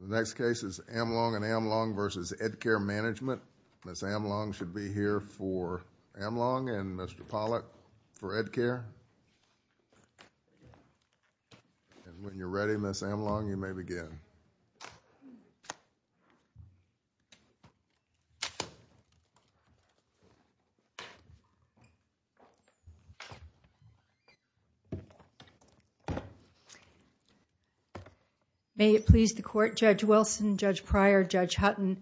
The next case is Amlong & Amlong v. Edcare Management. Ms. Amlong should be here for Amlong and Mr. Pollack for Edcare. And when you're ready, Ms. Amlong, you may begin. May it please the court, Judge Wilson, Judge Pryor, Judge Hutton.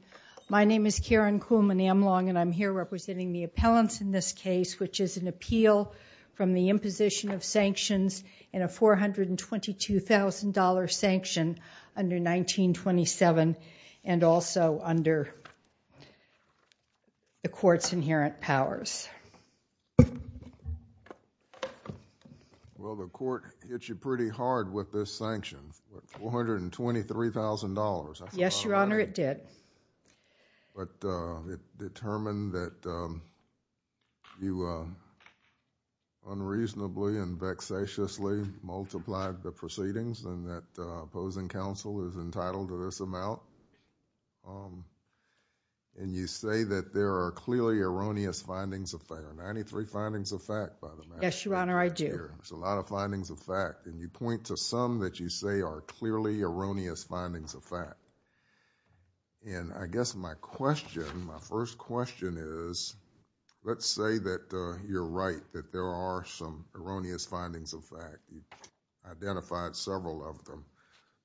My name is Karen Kuhlman Amlong and I'm here representing the appellants in this case, which is an appeal from the imposition of sanctions in a $422,000 sanction under 1927 and also under the court's inherent powers. Well, the court hit you pretty hard with this sanction, $423,000. Yes, Your Honor, it did. But it determined that you unreasonably and vexatiously multiplied the proceedings and that opposing counsel is entitled to this amount. And you say that there are clearly erroneous findings of fact. There are 93 findings of fact, by the way. Yes, Your Honor, I do. There's a lot of findings of fact. And you point to some that you say are clearly erroneous findings of fact. And I guess my question, my first question is, let's say that you're right, that there are some erroneous findings of fact. You've identified several of them.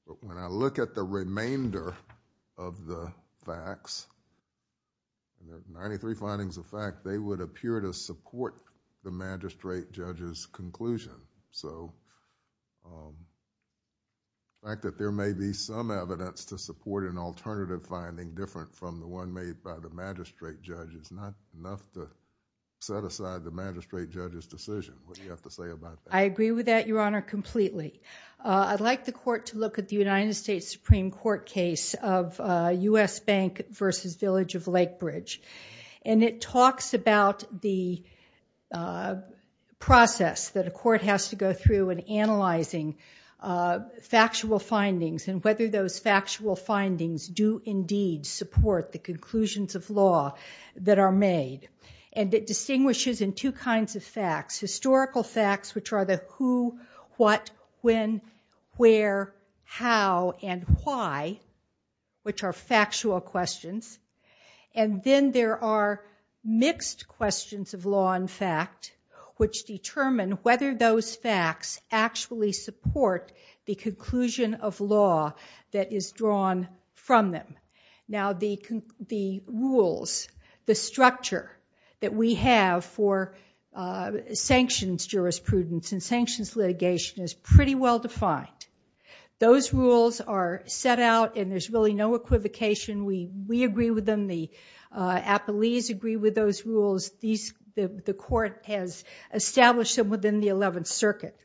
But when I look at the remainder of the facts, the 93 findings of fact, they would appear to support the magistrate judge's conclusion. So the fact that there may be some evidence to support an alternative finding different from the one made by the magistrate judge is not enough to set aside the magistrate judge's decision. What do you have to say about that? I agree with that, Your Honor, completely. I'd like the court to look at the United States Supreme Court case of U.S. Bank v. Village of Lake Bridge. And it talks about the process that a court has to go through in analyzing factual findings and whether those factual findings do indeed support the conclusions of law that are made. And it distinguishes in two kinds of facts, historical facts, which are the who, what, when, where, how, and why, which are factual questions. And then there are mixed questions of law and fact, which determine whether those facts actually support the conclusion of law that is drawn from them. Now, the rules, the structure that we have for sanctions jurisprudence and sanctions litigation is pretty well defined. Those rules are set out, and there's really no equivocation. We agree with them. The appellees agree with those rules. The court has established them within the Eleventh Circuit.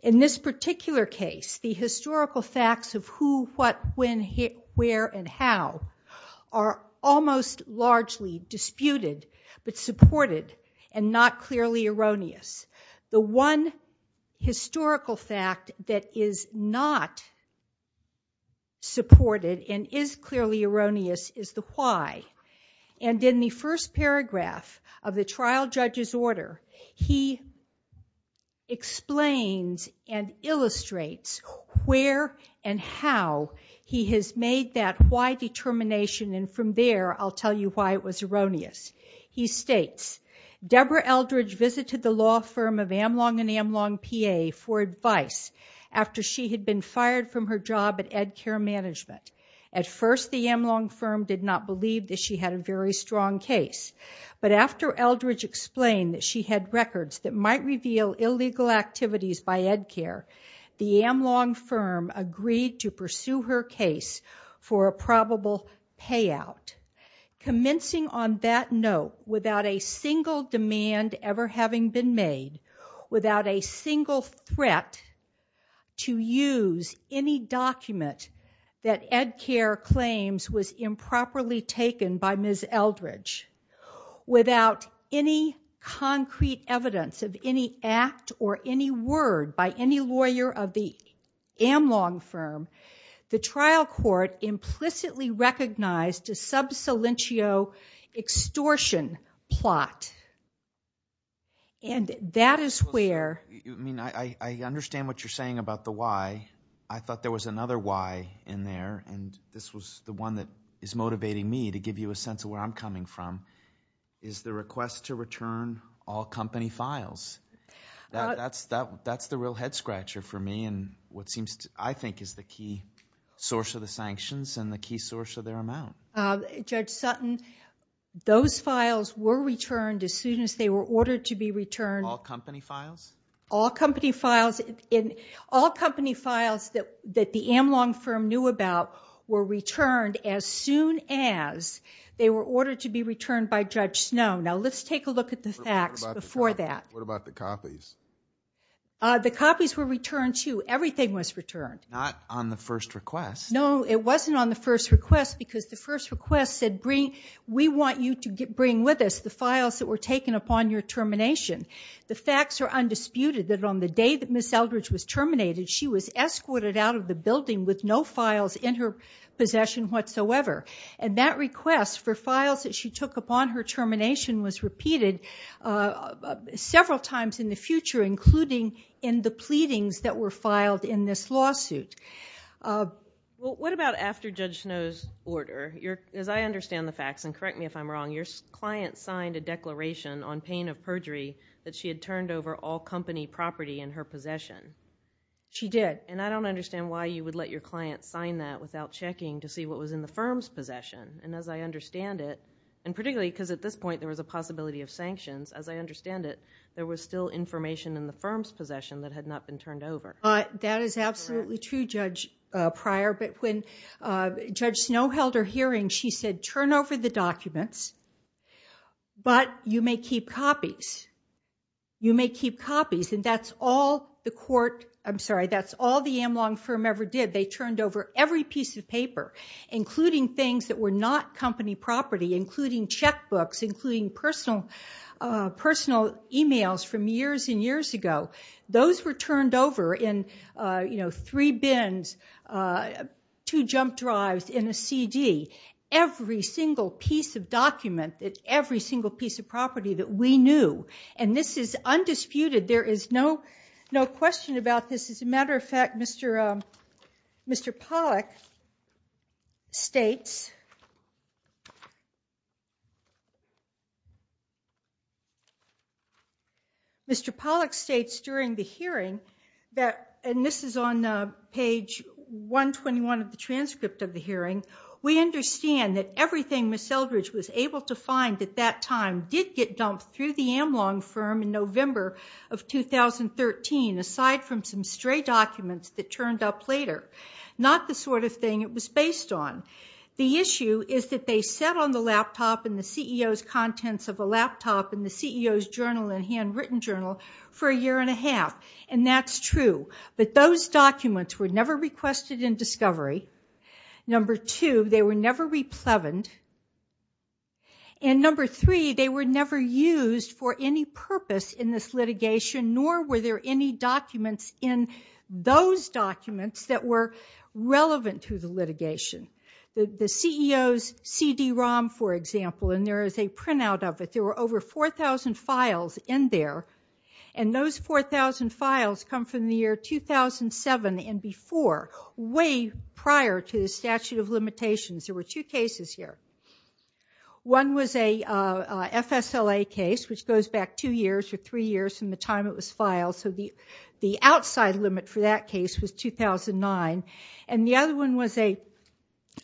In this particular case, the historical facts of who, what, when, where, and how are almost largely disputed but supported and not clearly erroneous. The one historical fact that is not supported and is clearly erroneous is the why. And in the first paragraph of the trial judge's order, he explains and illustrates where and how he has made that why determination. And from there, I'll tell you why it was erroneous. He states, Deborah Eldridge visited the law firm of Amlong and Amlong PA for advice after she had been fired from her job at EdCare Management. At first, the Amlong firm did not believe that she had a very strong case. But after Eldridge explained that she had records that might reveal illegal activities by EdCare, the Amlong firm agreed to pursue her case for a probable payout. Commencing on that note, without a single demand ever having been made, without a single threat to use any document that EdCare claims was improperly taken by Ms. Eldridge, without any concrete evidence of any act or any word by any lawyer of the Amlong firm, the trial court implicitly recognized a sub salientio extortion plot. And that is where... I mean, I understand what you're saying about the why. I thought there was another why in there. And this was the one that is motivating me to give you a sense of where I'm coming from, is the request to return all company files. That's the real head scratcher for me and what seems, I think, is the key source of the sanctions and the key source of their amount. Judge Sutton, those files were returned as soon as they were ordered to be returned. All company files? All company files. All company files that the Amlong firm knew about were returned as soon as they were ordered to be returned by Judge Snow. Now, let's take a look at the facts before that. What about the copies? The copies were returned, too. Everything was returned. Not on the first request. No, it wasn't on the first request because the first request said, we want you to bring with us the files that were taken upon your termination. The facts are undisputed that on the day that Ms. Eldridge was terminated, she was escorted out of the building with no files in her possession whatsoever. And that request for files that she took upon her termination was repeated several times in the future, including in the pleadings that were filed in this lawsuit. Well, what about after Judge Snow's order? As I understand the facts, and correct me if I'm wrong, your client signed a declaration on pain of perjury that she had turned over all company property in her possession. She did. And I don't understand why you would let your client sign that without checking to see what was in the firm's possession. And as I understand it, and particularly because at this point there was a possibility of sanctions, as I understand it, there was still information in the firm's possession that had not been turned over. That is absolutely true, Judge Pryor. But when Judge Snow held her hearing, she said, turn over the documents, but you may keep copies. You may keep copies. And that's all the court, I'm sorry, that's all the Amlong firm ever did. They turned over every piece of paper, including things that were not company property, including checkbooks, including personal emails from years and years ago. Those were turned over in three bins, two jump drives, in a CD. Every single piece of document, every single piece of property that we knew. And this is undisputed. There is no question about this. As a matter of fact, Mr. Pollack states, Mr. Pollack states during the hearing, and this is on page 121 of the transcript of the hearing, we understand that everything Ms. Eldridge was able to find at that time did get dumped through the Amlong firm in November of 2013, aside from some stray documents that turned up later. Not the sort of thing it was based on. The issue is that they sat on the laptop and the CEO's contents of a laptop and the CEO's journal and handwritten journal for a year and a half. And that's true. But those documents were never requested in discovery. Number two, they were never replevened. And number three, they were never used for any purpose in this litigation, nor were there any documents in those documents that were relevant to the litigation. The CEO's CD-ROM, for example, and there is a printout of it. There were over 4,000 files in there. And those 4,000 files come from the year 2007 and before, way prior to the statute of limitations. There were two cases here. One was a FSLA case, which goes back two years or three years from the time it was filed. So the outside limit for that case was 2009. And the other one was an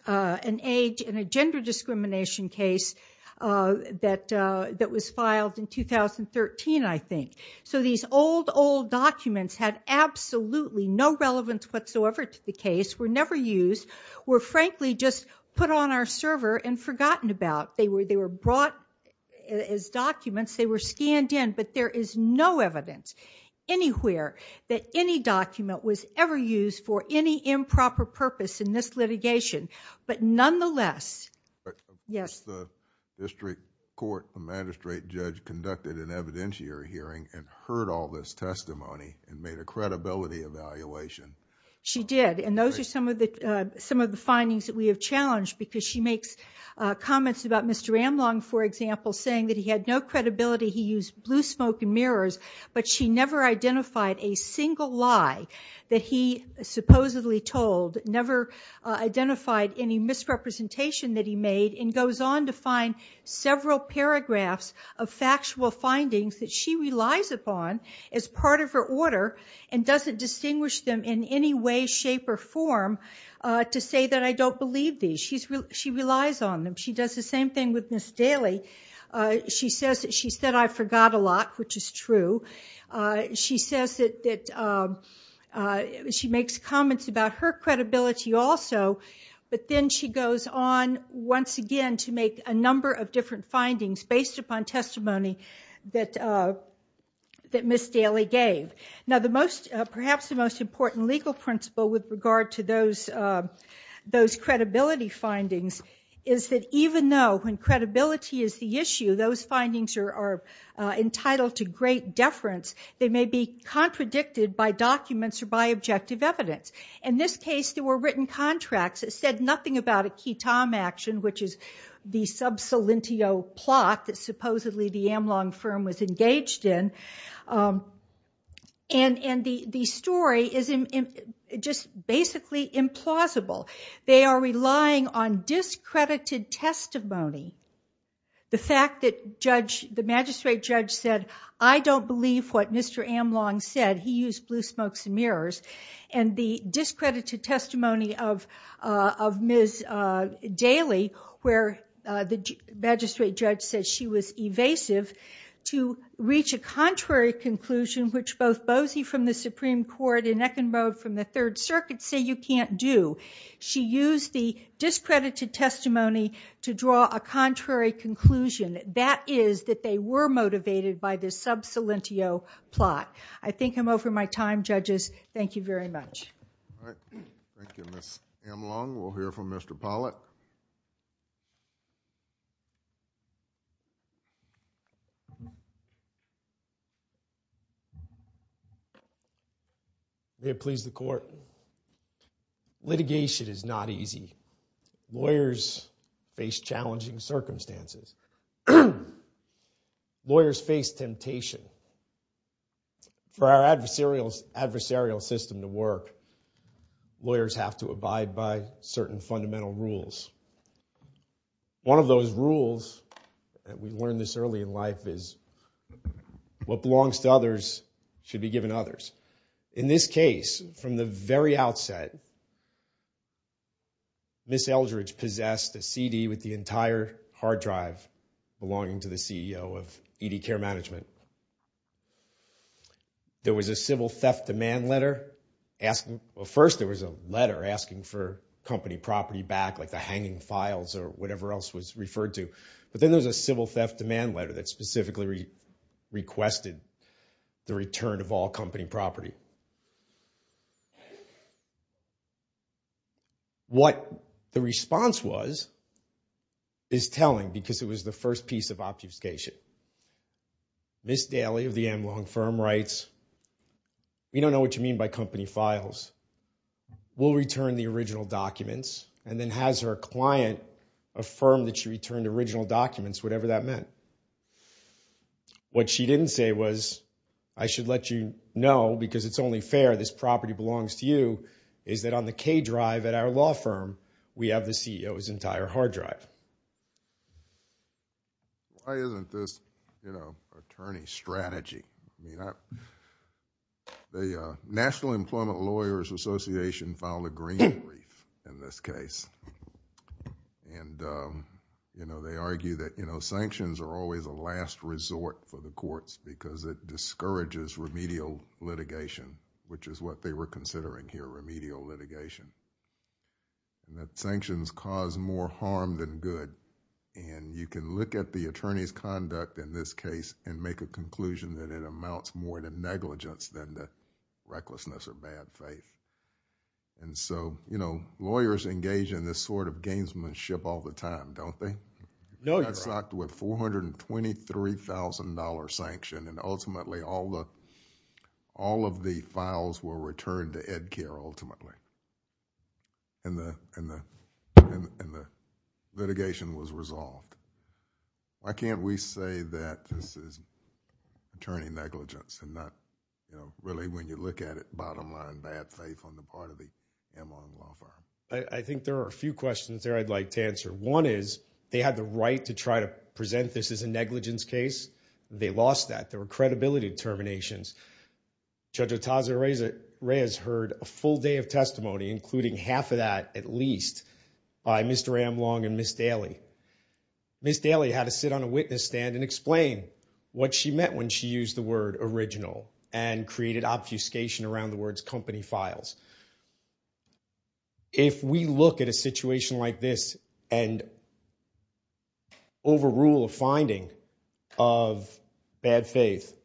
age and a gender discrimination case that was filed in 2013, I think. So these old, old documents had absolutely no relevance whatsoever to the case, were never used, were frankly just put on our server and forgotten about. They were brought as documents. They were scanned in, but there is no evidence anywhere that any document was ever used for any improper purpose in this litigation. But nonetheless... Yes? The district court magistrate judge conducted an evidentiary hearing and heard all this testimony and made a credibility evaluation. She did. And those are some of the findings that we have challenged because she makes comments about Mr. Amlong, for example, saying that he had no credibility, he used blue smoke and mirrors, but she never identified a single lie that he supposedly told, never identified any misrepresentation that he made, and goes on to find several paragraphs of factual findings that she relies upon as part of her order to say that I don't believe these. She relies on them. She does the same thing with Ms. Daly. She said I forgot a lot, which is true. She says that she makes comments about her credibility also, but then she goes on once again to make a number of different findings based upon testimony that Ms. Daly gave. Now, perhaps the most important legal principle with regard to those credibility findings is that even though when credibility is the issue, those findings are entitled to great deference, they may be contradicted by documents or by objective evidence. In this case, there were written contracts that said nothing about a ketom action, which is the sub-solentio plot that supposedly the Amlong firm was engaged in. And the story is just basically implausible. They are relying on discredited testimony. The fact that the magistrate judge said, I don't believe what Mr. Amlong said. He used blue smokes and mirrors. And the discredited testimony of Ms. Daly, where the magistrate judge said she was evasive, to reach a contrary conclusion, which both Boese from the Supreme Court and Eckenrode from the Third Circuit say you can't do. She used the discredited testimony to draw a contrary conclusion. That is that they were motivated by this sub-solentio plot. I think I'm over my time, judges. Thank you very much. Thank you, Ms. Amlong. We'll hear from Mr. Pollack. May it please the court. Litigation is not easy. Lawyers face challenging circumstances. Lawyers face temptation. For our adversarial system to work, lawyers have to abide by certain fundamental rules. One of those rules, and we learned this early in life, is what belongs to others should be given others. In this case, from the very outset, Ms. Eldridge possessed a CD with the entire hard drive belonging to the CEO of ED Care Management. There was a civil theft demand letter. First, there was a letter asking for company property back, like the hanging files or whatever else was referred to. But then there was a civil theft demand letter that specifically requested the return of all company property. What the response was is telling, because it was the first piece of obfuscation. Ms. Daly of the Amlong firm writes, we don't know what you mean by company files. We'll return the original documents. And then has her client affirm that she returned original documents, whatever that meant. What she didn't say was, I should let you know, because it's only fair this property belongs to you, is that on the K drive at our law firm, we have the CEO's entire hard drive. Why isn't this attorney strategy? The National Employment Lawyers Association didn't file a green brief in this case. They argue that sanctions are always a last resort for the courts because it discourages remedial litigation, which is what they were considering here, remedial litigation. That sanctions cause more harm than good. You can look at the attorney's conduct in this case and make a conclusion that it amounts more to negligence than to recklessness or bad faith. Lawyers engage in this sort of gamesmanship all the time, don't they? They got socked with $423,000 sanction and ultimately, all of the files were returned to EdCare ultimately, and the litigation was resolved. Why can't we say that this is attorney negligence and not really, when you look at it, bottom line, bad faith on the part of the Amlong Law Firm? I think there are a few questions there I'd like to answer. One is they had the right to try to present this as a negligence case. They lost that. There were credibility determinations. Judge Otaza Reyes heard a full day of testimony, including half of that at least, by Mr. Amlong and Ms. Daly. Ms. Daly had to sit on a witness stand and explain what she meant when she used the word original and created obfuscation around the words company files. If we look at a situation like this and overrule a finding of bad faith,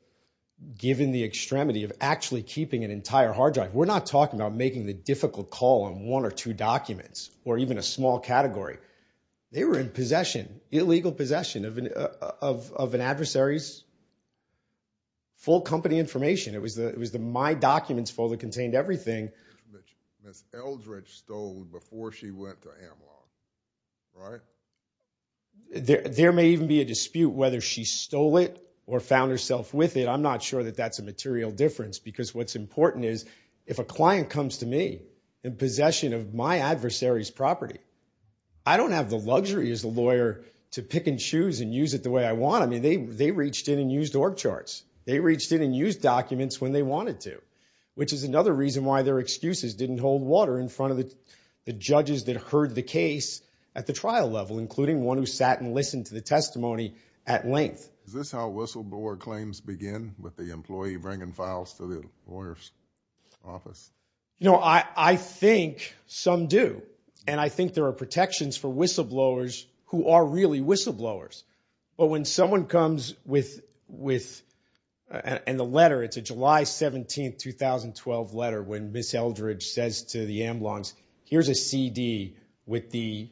given the extremity of actually keeping an entire hard drive, we're not talking about making the difficult call on one or two documents or even a small category. They were in possession, illegal possession, of an adversary's full company information. It was the My Documents folder that contained everything. Ms. Eldridge stole before she went to Amlong, right? There may even be a dispute whether she stole it or found herself with it. I'm not sure that that's a material difference because what's important is if a client comes to me in possession of my adversary's property, I don't have the luxury as a lawyer to pick and choose and use it the way I want. I mean, they reached in and used org charts. They reached in and used documents when they wanted to, which is another reason why their excuses didn't hold water in front of the judges that heard the case at the trial level, including one who sat and listened to the testimony at length. Is this how whistleblower claims begin, with the employee bringing files to the lawyer's office? You know, I think some do. And I think there are protections for whistleblowers who are really whistleblowers. But when someone comes with, and the letter, it's a July 17, 2012 letter when Ms. Eldridge says to the Amlongs, here's a CD with the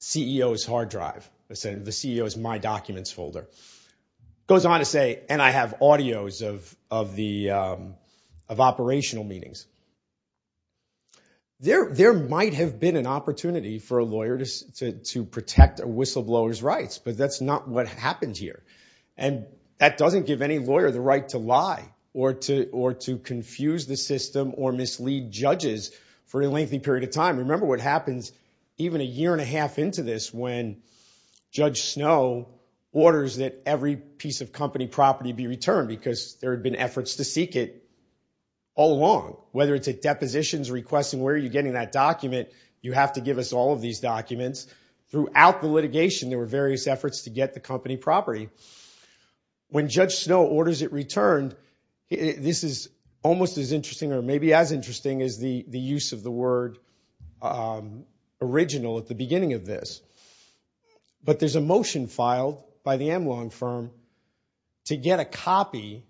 CEO's hard drive, the CEO's My Documents folder. It goes on to say, and I have audios of operational meetings. There might have been an opportunity for a lawyer to protect a whistleblower's rights, but that's not what happened here. And that doesn't give any lawyer the right to lie or to confuse the system or mislead judges for a lengthy period of time. Remember what happens even a year and a half into this when Judge Snow orders that every piece of company property be returned because there had been efforts to seek it all along, whether it's at depositions requesting, where are you getting that document? You have to give us all of these documents. Throughout the litigation, there were various efforts to get the company property. When Judge Snow orders it returned, this is almost as interesting or maybe as interesting as the use of the word original at the beginning of this. But there's a motion filed by the Amlong firm to get a copy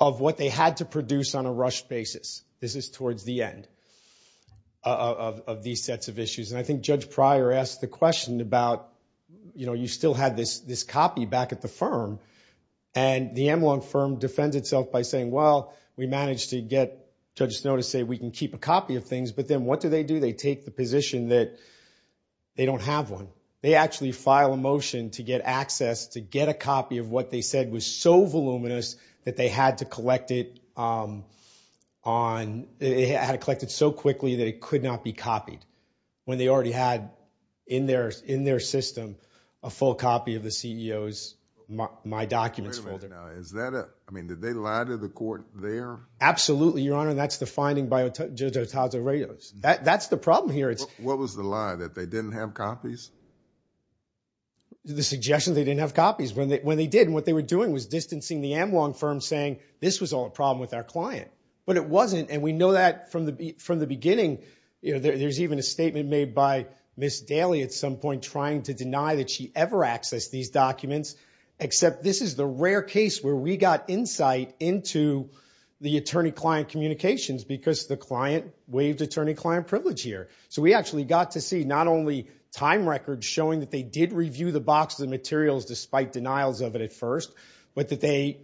of what they had to produce on a rushed basis. This is towards the end of these sets of issues. And I think Judge Pryor asked the question about, you know, you still had this copy back at the firm, and the Amlong firm defends itself by saying, well, we managed to get Judge Snow to say we can keep a copy of things, but then what do they do? They take the position that they don't have one. They actually file a motion to get access to get a copy of what they said was so voluminous that they had to collect it so quickly that it could not be copied when they already had in their system a full copy of the CEO's My Documents folder. Now, is that a – I mean, did they lie to the court there? Absolutely, Your Honor, and that's the finding by Judge Otaza-Reyes. That's the problem here. What was the lie, that they didn't have copies? The suggestion they didn't have copies. When they did, what they were doing was distancing the Amlong firm saying this was all a problem with our client. But it wasn't, and we know that from the beginning. There's even a statement made by Ms. Daley at some point trying to deny that she ever accessed these documents, except this is the rare case where we got insight into the attorney-client communications because the client waived attorney-client privilege here. So we actually got to see not only time records showing that they did review the boxes of materials despite denials of it at first, but that they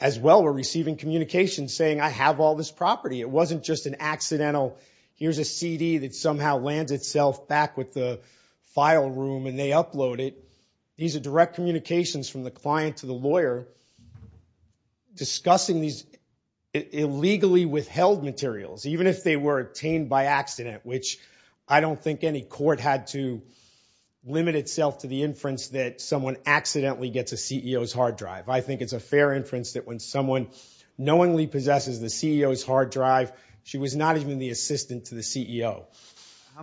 as well were receiving communications saying I have all this property. It wasn't just an accidental here's a CD that somehow lands itself back with the file room and they upload it. These are direct communications from the client to the lawyer discussing these illegally withheld materials, even if they were obtained by accident, which I don't think any court had to limit itself to the inference that someone accidentally gets a CEO's hard drive. I think it's a fair inference that when someone knowingly possesses How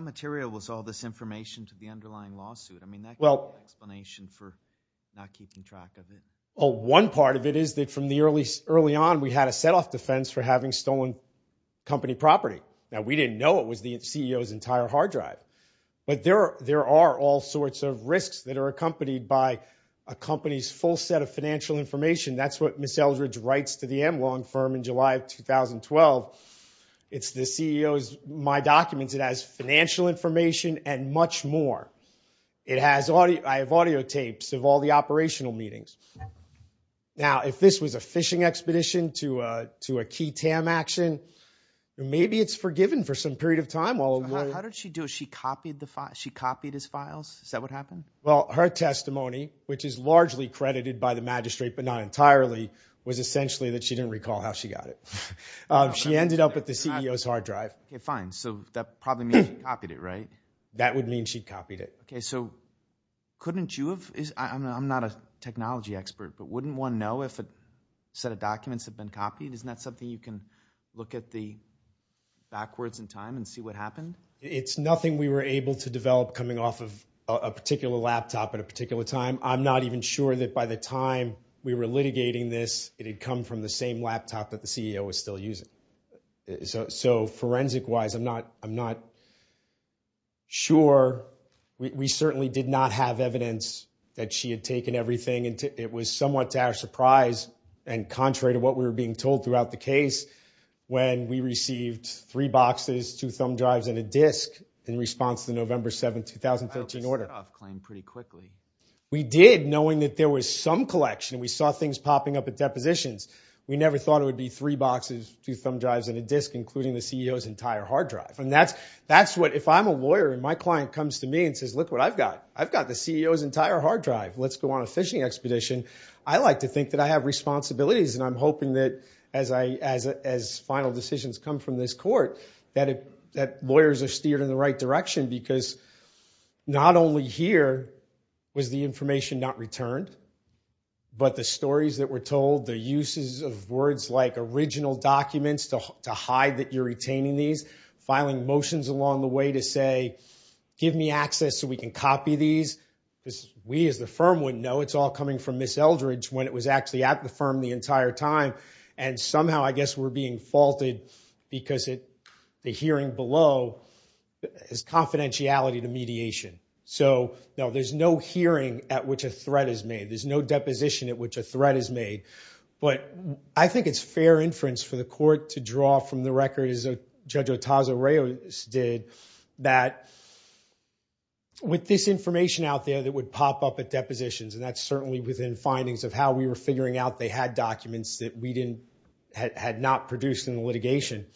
material was all this information to the underlying lawsuit? I mean, that gives an explanation for not keeping track of it. Well, one part of it is that from the early on we had a set-off defense for having stolen company property. Now, we didn't know it was the CEO's entire hard drive. But there are all sorts of risks that are accompanied by a company's full set of financial information. That's what Ms. Eldridge writes to the Amlong firm in July of 2012. It's the CEO's My Documents. It has financial information and much more. I have audio tapes of all the operational meetings. Now, if this was a fishing expedition to a key TAM action, maybe it's forgiven for some period of time. How did she do it? She copied his files? Is that what happened? Well, her testimony, which is largely credited by the magistrate, but not entirely, was essentially that she didn't recall how she got it. She ended up at the CEO's hard drive. Okay, fine. So that probably means she copied it, right? That would mean she copied it. Okay, so couldn't you have... I'm not a technology expert, but wouldn't one know if a set of documents had been copied? Isn't that something you can look at backwards in time and see what happened? It's nothing we were able to develop coming off of a particular laptop at a particular time. I'm not even sure that by the time we were litigating this it had come from the same laptop that the CEO was still using. So forensic-wise, I'm not sure. We certainly did not have evidence that she had taken everything. It was somewhat to our surprise, and contrary to what we were being told throughout the case, when we received three boxes, two thumb drives, and a disk in response to the November 7, 2013, order. I hope you set off claim pretty quickly. We did, knowing that there was some collection. We saw things popping up at depositions. We never thought it would be three boxes, two thumb drives, and a disk, including the CEO's entire hard drive. If I'm a lawyer and my client comes to me and says, look what I've got, I've got the CEO's entire hard drive. Let's go on a phishing expedition. I like to think that I have responsibilities, and I'm hoping that as final decisions come from this court that lawyers are steered in the right direction because not only here was the information not returned, but the stories that were told, the uses of words like original documents to hide that you're retaining these, filing motions along the way to say, give me access so we can copy these. We, as the firm, wouldn't know. It's all coming from Ms. Eldridge when it was actually at the firm the entire time, and somehow I guess we're being faulted because the hearing below is confidentiality to mediation. So, no, there's no hearing at which a threat is made. There's no deposition at which a threat is made, but I think it's fair inference for the court to draw from the record, as Judge Otazio-Reyes did, that with this information out there that would pop up at depositions, and that's certainly within findings of how we were figuring out they had documents that we had not produced in the litigation,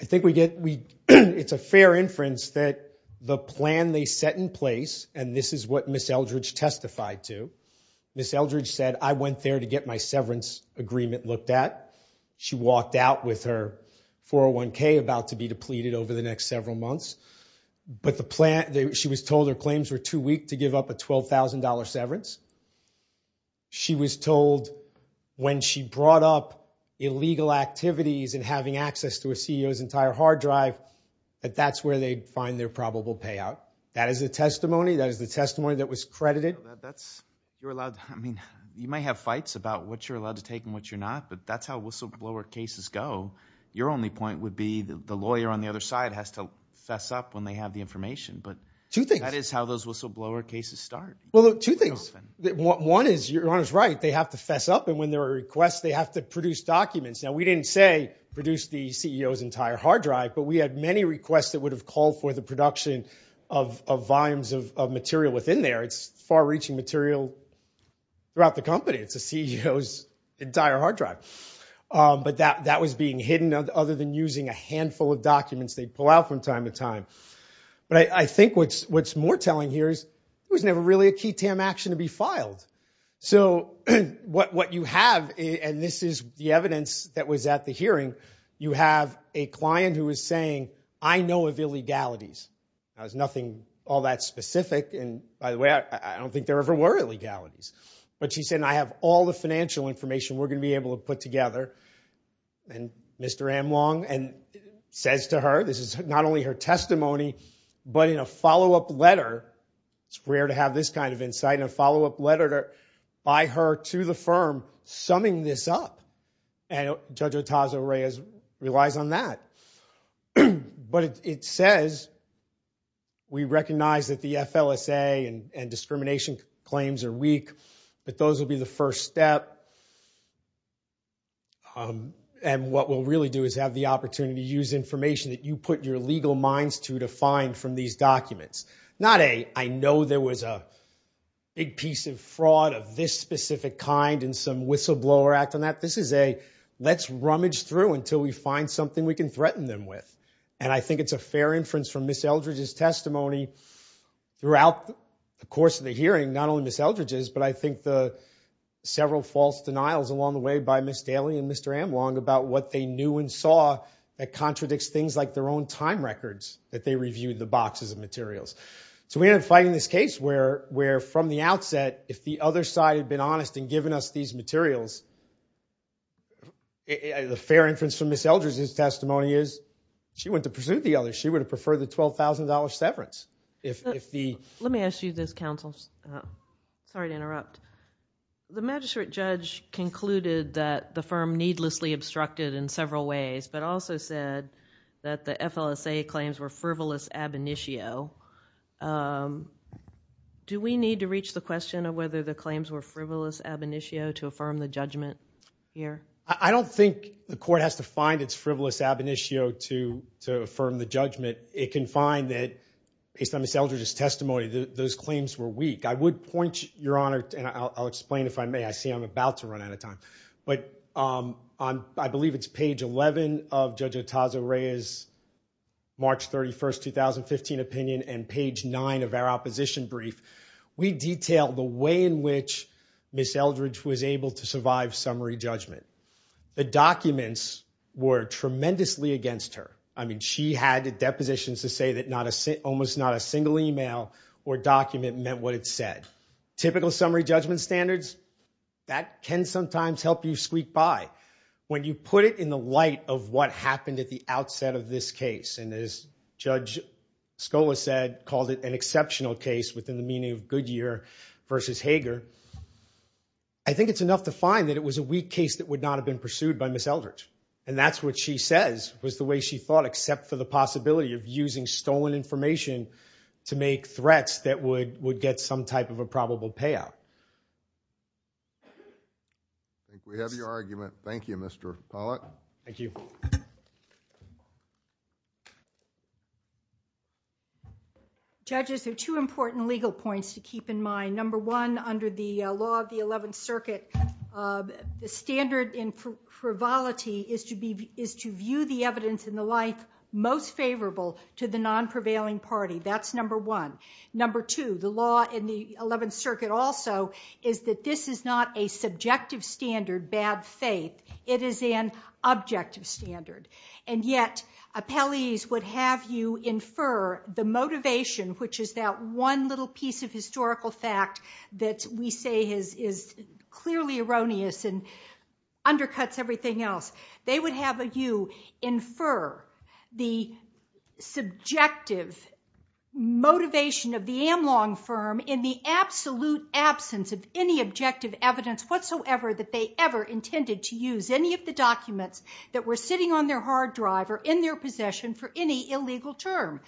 I think we get... It's a fair inference that the plan they set in place, and this is what Ms. Eldridge testified to, Ms. Eldridge said, I went there to get my severance agreement looked at. She walked out with her 401K about to be depleted over the next several months, but the plan... She was told her claims were too weak to give up a $12,000 severance. She was told when she brought up illegal activities and having access to a CEO's entire hard drive that that's where they'd find their probable payout. That is the testimony. That is the testimony that was credited. That's... You're allowed... I mean, you might have fights about what you're allowed to take and what you're not, but that's how whistleblower cases go. Your only point would be the lawyer on the other side has to fess up when they have the information, but... Two things. That is how those whistleblower cases start. Well, two things. One is, your Honor's right, they have to fess up, and when there are requests, they have to produce documents. Now, we didn't say produce the CEO's entire hard drive, but we had many requests that would have called for the production of volumes of material within there. It's far-reaching material throughout the company. It's the CEO's entire hard drive. But that was being hidden, other than using a handful of documents they'd pull out from time to time. But I think what's more telling here is it was never really a key-tam action to be filed. So what you have, and this is the evidence that was at the hearing, you have a client who is saying, I know of illegalities. Now, there's nothing all that specific, and by the way, I don't think there ever were illegalities. But she said, I have all the financial information we're going to be able to put together. And Mr Amlong says to her, this is not only her testimony, but in a follow-up letter, it's rare to have this kind of insight, in a follow-up letter by her to the firm summing this up. And Judge Otazo-Reyes relies on that. But it says, we recognize that the FLSA and discrimination claims are weak, but those will be the first step. And what we'll really do is have the opportunity to use information that you put your legal minds to, to find from these documents. Not a, I know there was a big piece of fraud of this specific kind and some whistleblower act on that. This is a, let's rummage through until we find something we can threaten them with. And I think it's a fair inference from Ms Eldridge's testimony throughout the course of the hearing, not only Ms Eldridge's, but I think the several false denials along the way by Ms Daly and Mr Amlong about what they knew and saw that contradicts things like their own time records that they reviewed the boxes of materials. So we ended up fighting this case where from the outset, if the other side had been honest and given us these materials, the fair inference from Ms Eldridge's testimony is, she wouldn't have pursued the others. She would have preferred the $12,000 severance. If the... Let me ask you this, counsel. Sorry to interrupt. The magistrate judge concluded that the firm needlessly obstructed in several ways, but also said that the FLSA claims were frivolous ab initio. Um... Do we need to reach the question of whether the claims were frivolous ab initio to affirm the judgment here? I don't think the court has to find it's frivolous ab initio to affirm the judgment. It can find that, based on Ms Eldridge's testimony, those claims were weak. I would point, Your Honor, and I'll explain if I may. I see I'm about to run out of time. But I believe it's page 11 of Judge Otazo-Reyes' March 31, 2015 opinion and page 9 of our opposition brief. We detail the way in which Ms Eldridge was able to survive summary judgment. The documents were tremendously against her. I mean, she had depositions to say that almost not a single e-mail or document meant what it said. Typical summary judgment standards, that can sometimes help you squeak by. When you put it in the light of what happened at the outset of this case, and as Judge Scola said, called it an exceptional case within the meaning of Goodyear v. Hager, I think it's enough to find that it was a weak case that would not have been pursued by Ms Eldridge. And that's what she says, was the way she thought, except for the possibility of using stolen information to make threats that would get some type of a probable payout. I think we have your argument. Thank you, Mr. Pollack. Thank you. Judges, there are two important legal points to keep in mind. Number one, under the law of the 11th Circuit, the standard in frivolity is to view the evidence in the life most favorable to the non-prevailing party. That's number one. Number two, the law in the 11th Circuit also, is that this is not a subjective standard, bad faith. It is an objective standard. And yet, appellees would have you infer the motivation, which is that one little piece of historical fact that we say is clearly erroneous and undercuts everything else. They would have you infer the subjective motivation of the Amlong firm in the absolute absence of any objective evidence whatsoever that they ever intended to use any of the documents that were sitting on their hard drive or in their possession for any illegal term.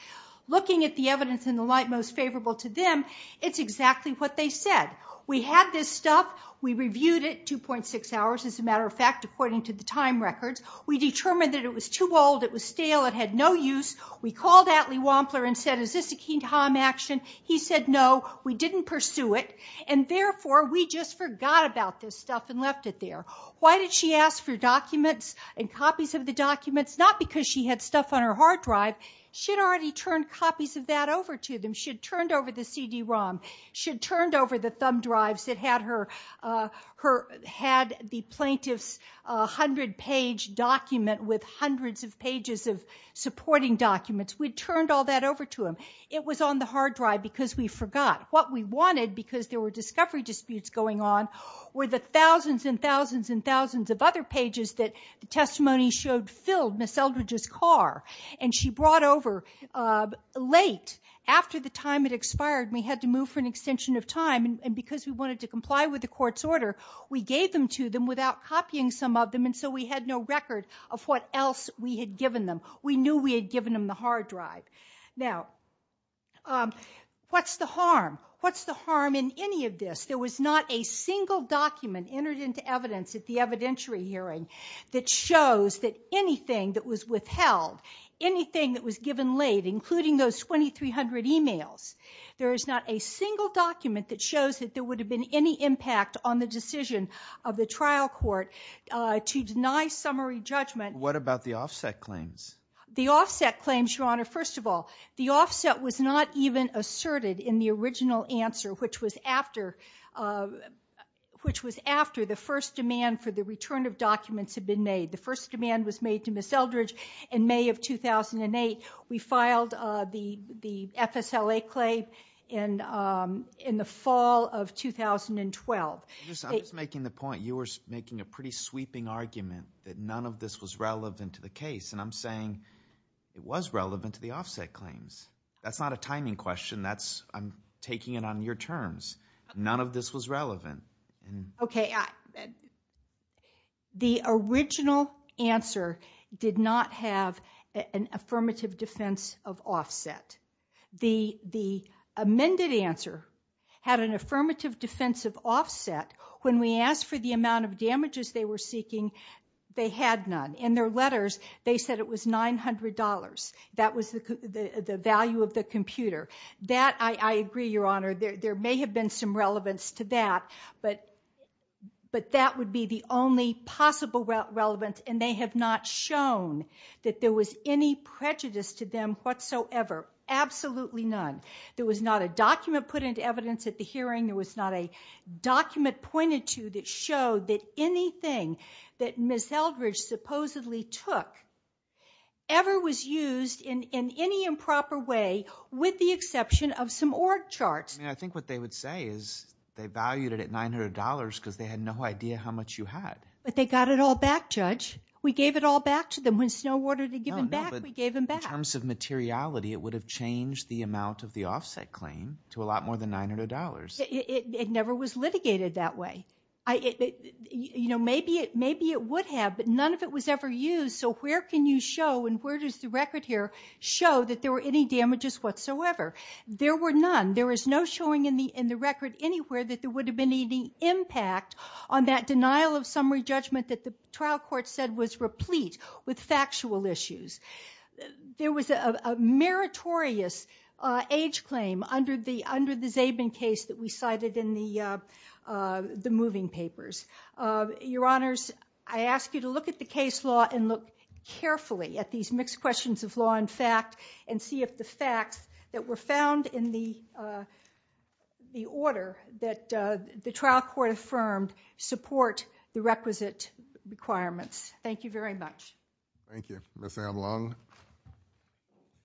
Looking at the evidence in the light most favorable to them, it's exactly what they said. We had this stuff. We reviewed it, 2.6 hours, as a matter of fact, according to the time records. We determined that it was too old. It was stale. It had no use. We called Atlee Wampler and said, is this a King Tom action? He said, no. We didn't pursue it. And therefore, we just forgot about this stuff and left it there. Why did she ask for documents and copies of the documents? Not because she had stuff on her hard drive. She had already turned copies of that over to them. She had turned over the CD-ROM. She had turned over the thumb drives that had the plaintiff's 100-page document with hundreds of pages of supporting documents. We turned all that over to them. It was on the hard drive because we forgot. What we wanted, because there were discovery disputes going on, were the thousands and thousands and thousands of other pages that the testimony showed filled Ms. Eldridge's car. And she brought over late, after the time had expired, and we had to move for an extension of time. And because we wanted to comply with the court's order, we gave them to them without copying some of them. And so we had no record of what else we had given them. We knew we had given them the hard drive. Now, what's the harm? What's the harm in any of this? There was not a single document entered into evidence at the evidentiary hearing that shows that anything that was withheld, anything that was given late, including those 2,300 emails, there is not a single document that shows that there would have been any impact on the decision of the trial court to deny summary judgment. What about the offset claims? The offset claims, Your Honor, first of all, the offset was not even asserted in the original answer, which was after the first demand for the return of documents had been made. The first demand was made to Ms. Eldridge in May of 2008. We filed the FSLA claim in the fall of 2012. I'm just making the point. You were making a pretty sweeping argument that none of this was relevant to the case. And I'm saying it was relevant to the offset claims. That's not a timing question. I'm taking it on your terms. None of this was relevant. Okay. The original answer did not have an affirmative defense of offset. The amended answer had an affirmative defense of offset. When we asked for the amount of damages they were seeking, they had none. In their letters, they said it was $900. That was the value of the computer. I agree, Your Honor, there may have been some relevance to that, but that would be the only possible relevance, and they have not shown that there was any prejudice to them whatsoever. Absolutely none. There was not a document put into evidence at the hearing. There was not a document pointed to that showed that anything that Ms. Eldridge supposedly took ever was used in any improper way, with the exception of some org charts. I think what they would say is they valued it at $900 because they had no idea how much you had. But they got it all back, Judge. We gave it all back to them. When Snow ordered to give them back, we gave them back. In terms of materiality, it would have changed the amount of the offset claim to a lot more than $900. It never was litigated that way. You know, maybe it would have, but none of it was ever used, so where can you show, and where does the record here show, that there were any damages whatsoever? There were none. There is no showing in the record anywhere that there would have been any impact on that denial of summary judgment that the trial court said was replete with factual issues. There was a meritorious age claim under the Zabin case that we cited in the moving papers. Your Honours, I ask you to look at the case law and look carefully at these mixed questions of law and fact and see if the facts that were found in the order that the trial court affirmed support the requisite requirements. Thank you very much. Thank you. Ms. Avalon.